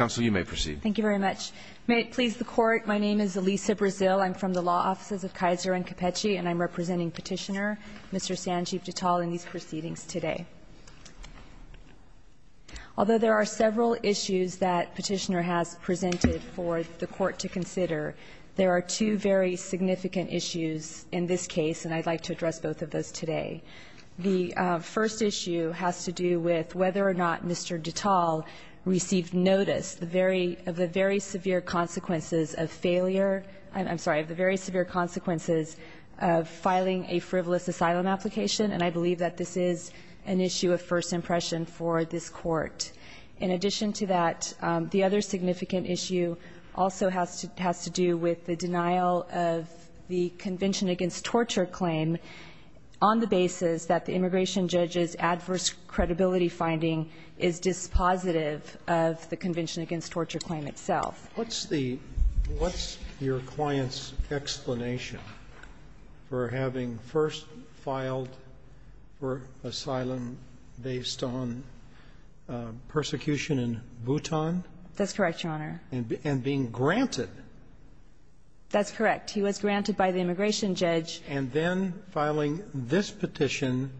May it please the Court, my name is Elisa Brazil, I'm from the Law Offices of Kaiser and Capecce and I'm representing Petitioner, Mr. Sanjeev Dittal in these proceedings today. Although there are several issues that Petitioner has presented for the Court to consider, there are two very significant issues in this case and I'd like to address both of those today. The first issue has to do with whether or not Mr. Dittal received notice of the very severe consequences of filing a frivolous asylum application and I believe that this is an issue of first impression for this Court. In addition to that, the other significant issue also has to do with the denial of the Convention Against Torture claim on the basis that the immigration judge's adverse credibility finding is dispositive of the Convention Against Torture claim itself. Sotomayor, what's the what's your client's explanation for having first filed for asylum based on persecution in Bhutan? That's correct, Your Honor. And being granted? That's correct. He was granted by the immigration judge. And then filing this petition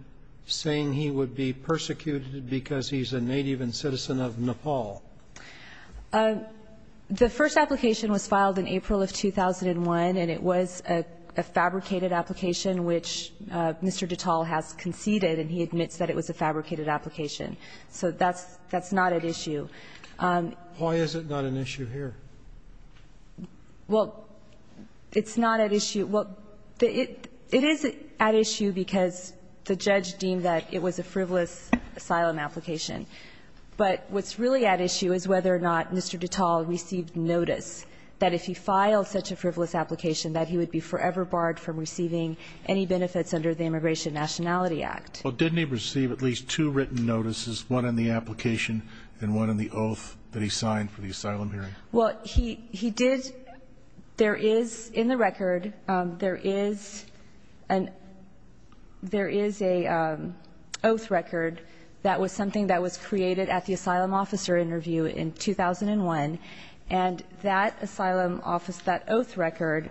saying he would be persecuted because he's a native and citizen of Nepal? The first application was filed in April of 2001 and it was a fabricated application which Mr. Dittal has conceded and he admits that it was a fabricated application. So that's not at issue. Why is it not an issue here? Well, it's not at issue. It is at issue because the judge deemed that it was a frivolous asylum application. But what's really at issue is whether or not Mr. Dittal received notice that if he filed such a frivolous application that he would be forever barred from receiving any benefits under the Immigration Nationality Act. Well, didn't he receive at least two written notices, one in the application and one in the oath that he signed for the asylum hearing? Well, he did. There is in the record, there is an oath record that was something that was signed that was created at the asylum officer interview in 2001 and that asylum office, that oath record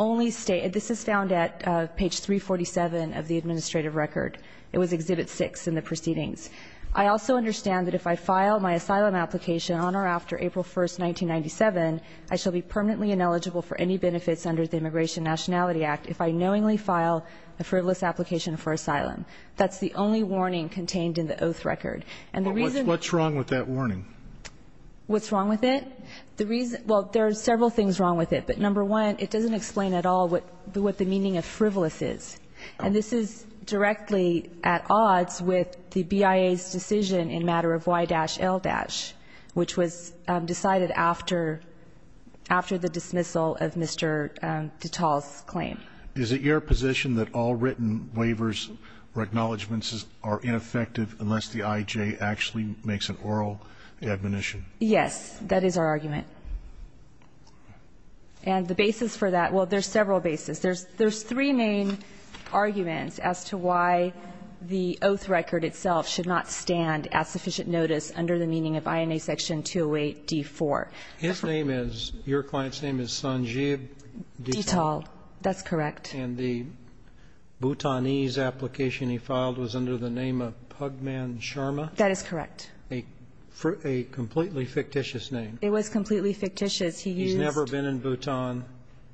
only stated, this is found at page 347 of the administrative record. It was exhibit 6 in the proceedings. I also understand that if I file my asylum application on or after April 1, 1997, I shall be permanently ineligible for any benefits under the Immigration Nationality Act if I knowingly file a frivolous application for asylum. That's the only warning contained in the oath record. And the reason- What's wrong with that warning? What's wrong with it? The reason, well, there are several things wrong with it. But number one, it doesn't explain at all what the meaning of frivolous is. And this is directly at odds with the BIA's decision in matter of Y-L-, which was decided after the dismissal of Mr. Dittal's claim. Is it your position that all written waivers or acknowledgments are ineffective unless the IJ actually makes an oral admonition? Yes, that is our argument. And the basis for that, well, there's several basis. There's three main arguments as to why the oath record itself should not stand at sufficient notice under the meaning of INA section 208 D4. His name is, your client's name is Sanjib Dittal. Dittal, that's correct. And the Bhutanese application he filed was under the name of Pugman Sharma? That is correct. A completely fictitious name. It was completely fictitious. He used- He's never been in Bhutan.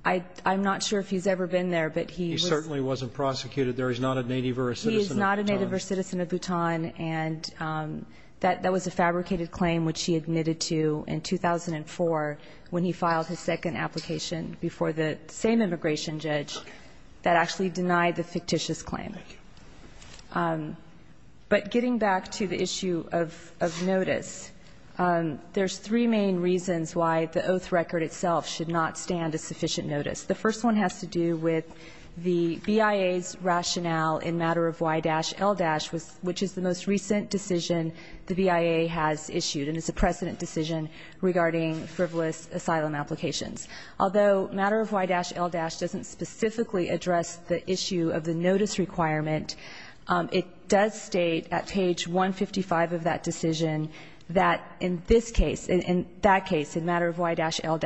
I'm not sure if he's ever been there, but he was- He certainly wasn't prosecuted. There is not a native or a citizen of Bhutan. He is not a native or a citizen of Bhutan. And that was a fabricated claim, which he admitted to in 2004 when he filed his second application before the same immigration judge that actually denied the fictitious claim. But getting back to the issue of notice, there's three main reasons why the oath record itself should not stand at sufficient notice. The first one has to do with the BIA's rationale in matter of Y-L-, which is the most recent decision the BIA has issued. And it's a precedent decision regarding frivolous asylum applications. Although matter of Y-L- doesn't specifically address the issue of the notice requirement, it does state at page 155 of that decision that in this case, in that case, in matter of Y-L-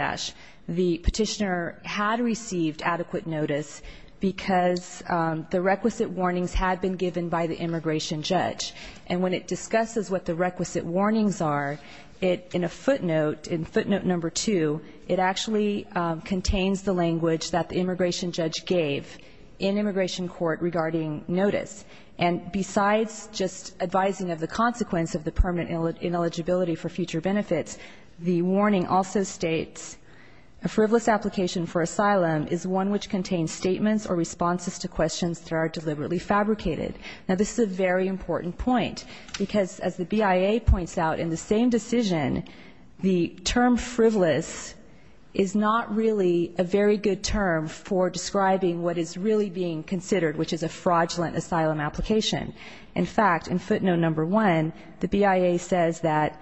the petitioner had received adequate notice because the requisite warnings had been given by the immigration judge. And when it discusses what the requisite warnings are, in a footnote, in footnote number two, it actually contains the language that the immigration judge gave in immigration court regarding notice. And besides just advising of the consequence of the permanent ineligibility for future benefits, the warning also states a frivolous application for asylum is one which contains statements or responses to questions that are deliberately fabricated. Now this is a very important point, because as the BIA points out in the same decision, the term frivolous is not really a very good term for describing what is really being considered, which is a fraudulent asylum application. In fact, in footnote number one, the BIA says that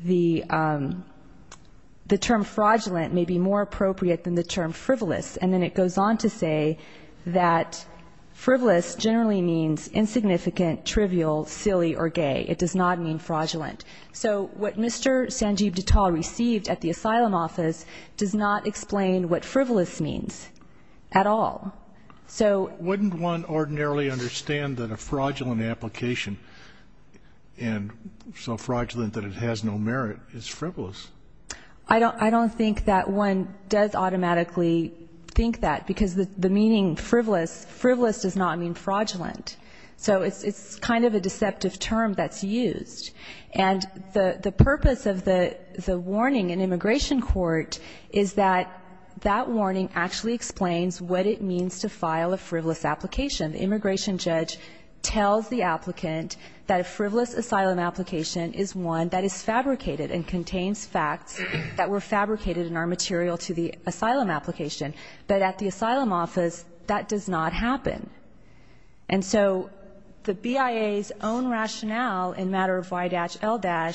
the term fraudulent may be more appropriate than the term frivolous. And then it goes on to say that frivolous generally means insignificant, trivial, silly, or gay. It does not mean fraudulent. So what Mr. Sanjeev Dittal received at the asylum office does not explain what frivolous means at all. So- Wouldn't one ordinarily understand that a fraudulent application, and so fraudulent that it has no merit, is frivolous? I don't think that one does automatically think that, because the meaning frivolous, frivolous does not mean fraudulent. So it's kind of a deceptive term that's used. And the purpose of the warning in immigration court is that that warning actually explains what it means to file a frivolous application. The immigration judge tells the applicant that a frivolous asylum application is one that is fabricated and contains facts that were fabricated in our material to the asylum application. But at the asylum office, that does not happen. And so the BIA's own rationale in matter of Y-L-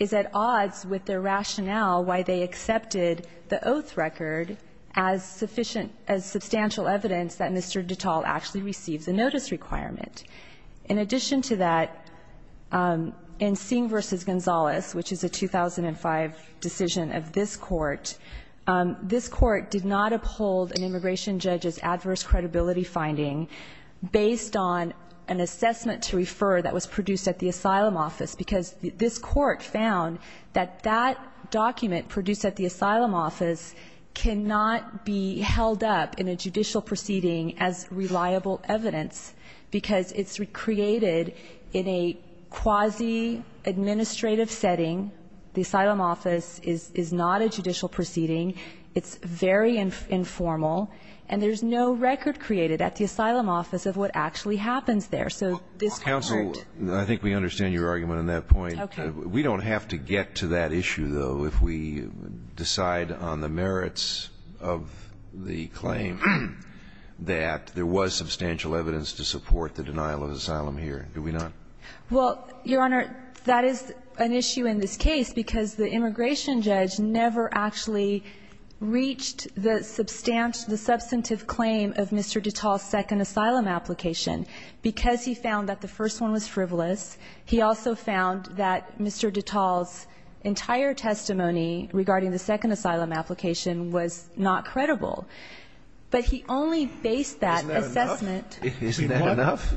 is at odds with their rationale why they accepted the oath record as sufficient, as substantial evidence that Mr. Dittal actually receives a notice requirement. In addition to that, in Singh versus Gonzalez, which is a 2005 decision of this court, this court did not uphold an immigration judge's adverse credibility finding based on an assessment to refer that was produced at the asylum office. Because this court found that that document produced at the asylum office cannot be held up in a judicial proceeding as reliable evidence. Because it's recreated in a quasi-administrative setting. The asylum office is not a judicial proceeding. It's very informal. And there's no record created at the asylum office of what actually happens there. So this court- Counsel, I think we understand your argument on that point. Okay. We don't have to get to that issue, though. If we decide on the merits of the claim that there was substantial evidence to support the denial of asylum here, do we not? Well, Your Honor, that is an issue in this case because the immigration judge never actually reached the substantive claim of Mr. Dittal's second asylum application. Because he found that the first one was frivolous, he also found that Mr. Dittal's entire testimony regarding the second asylum application was not credible. But he only based that assessment- Isn't that enough?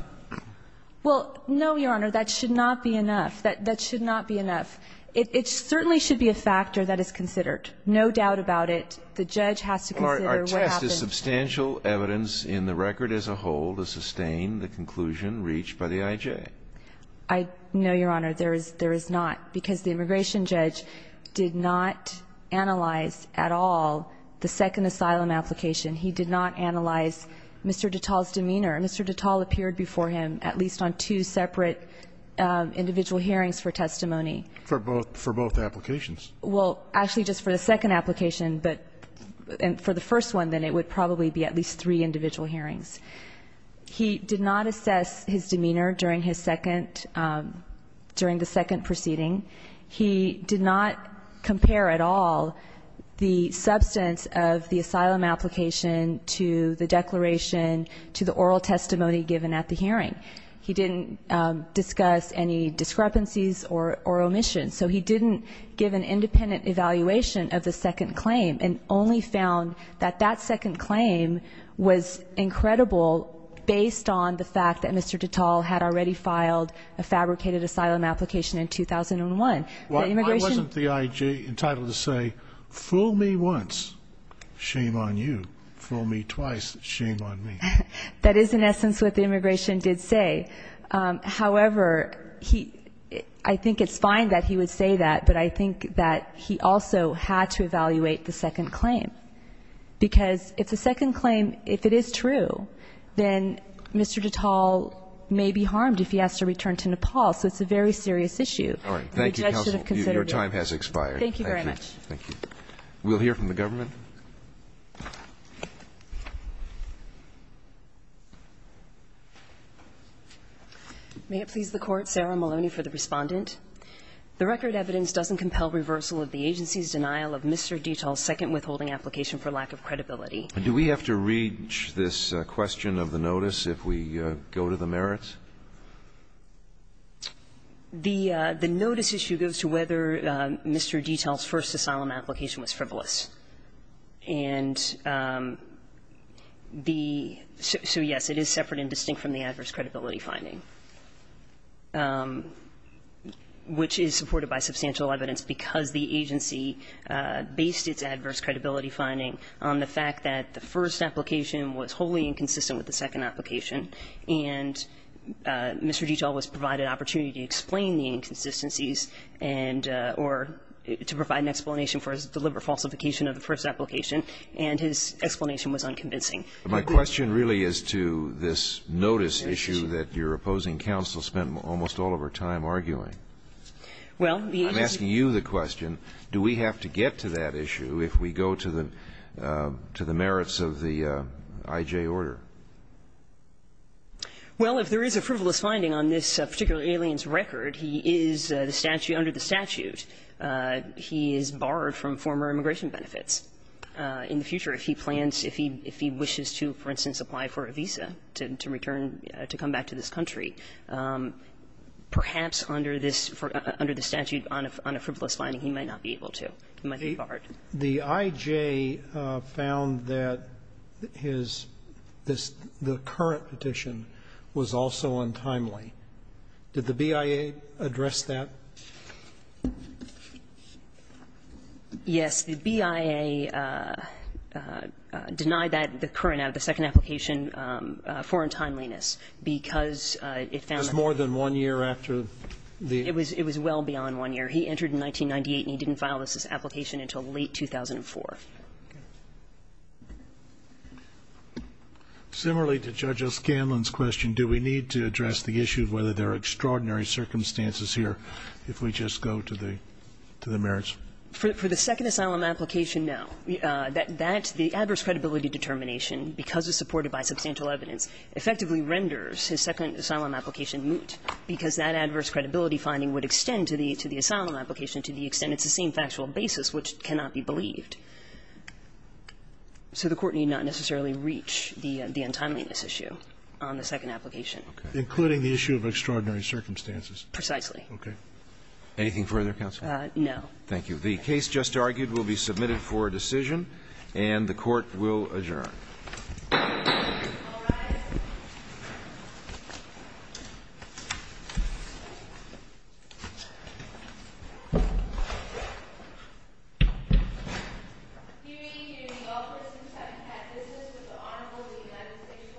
Well, no, Your Honor. That should not be enough. That should not be enough. It certainly should be a factor that is considered. No doubt about it. The judge has to consider what happened- Our test is substantial evidence in the record as a whole to sustain the conclusion reached by the IJ. I know, Your Honor. There is not, because the immigration judge did not analyze at all the second asylum application. He did not analyze Mr. Dittal's demeanor. Mr. Dittal appeared before him at least on two separate individual hearings for testimony. For both applications. Well, actually, just for the second application, but for the first one, then it would probably be at least three individual hearings. He did not assess his demeanor during the second proceeding. He did not compare at all the substance of the asylum application to the declaration, to the oral testimony given at the hearing. He didn't discuss any discrepancies or omissions. So he didn't give an independent evaluation of the second claim and only found that that based on the fact that Mr. Dittal had already filed a fabricated asylum application in 2001. Why wasn't the IJ entitled to say, fool me once, shame on you. Fool me twice, shame on me. That is in essence what the immigration did say. However, I think it's fine that he would say that, but I think that he also had to evaluate the second claim. Because if the second claim, if it is true, then Mr. Dittal may be harmed if he has to return to Nepal. So it's a very serious issue. And the judge should have considered it. All right. Thank you, counsel. Your time has expired. Thank you very much. Thank you. We'll hear from the government. May it please the Court, Sarah Maloney for the Respondent. The record evidence doesn't compel reversal of the agency's denial of Mr. Dittal's second withholding application for lack of credibility. Do we have to read this question of the notice if we go to the merits? The notice issue goes to whether Mr. Dittal's first asylum application was frivolous. And the so yes, it is separate and distinct from the adverse credibility finding. Which is supported by substantial evidence because the agency based its adverse credibility finding on the fact that the first application was wholly inconsistent with the second application, and Mr. Dittal was provided an opportunity to explain the inconsistencies and or to provide an explanation for his deliberate falsification of the first application, and his explanation was unconvincing. My question really is to this notice issue that your opposing counsel spent almost all of our time arguing. Well, the agency do we have to get to that issue if we go to the merits of the IJ order? Well, if there is a frivolous finding on this particular alien's record, he is the statute under the statute. He is borrowed from former immigration benefits. In the future, if he plans, if he wishes to, for instance, apply for a visa to return to come back to this country, perhaps under this, under the statute on a frivolous finding, he might not be able to. He might be barred. The IJ found that his, the current petition was also untimely. Did the BIA address that? Yes. The BIA denied that, the current, the second application, for untimeliness because it found that. It was more than one year after the It was well beyond one year. He entered in 1998, and he didn't file this application until late 2004. Similarly to Judge O'Scanlan's question, do we need to address the issue of whether there are extraordinary circumstances here if we just go to the merits? For the second asylum application, no. That, the adverse credibility determination, because it's supported by substantial evidence, effectively renders his second asylum application moot, because that adverse credibility finding would extend to the asylum application to the extent it's the same factual basis, which cannot be believed. So the Court need not necessarily reach the untimeliness issue on the second application. Including the issue of extraordinary circumstances. Precisely. Okay. Anything further, counsel? No. Thank you. The case just argued will be submitted for decision, and the Court will adjourn. All rise. Hearing, hearing, all persons having had business with the Honorable Dean of the State plan added to the matter. The matter is hereby overturned by the S supermarket. And now the Court will discard the motion for adjournment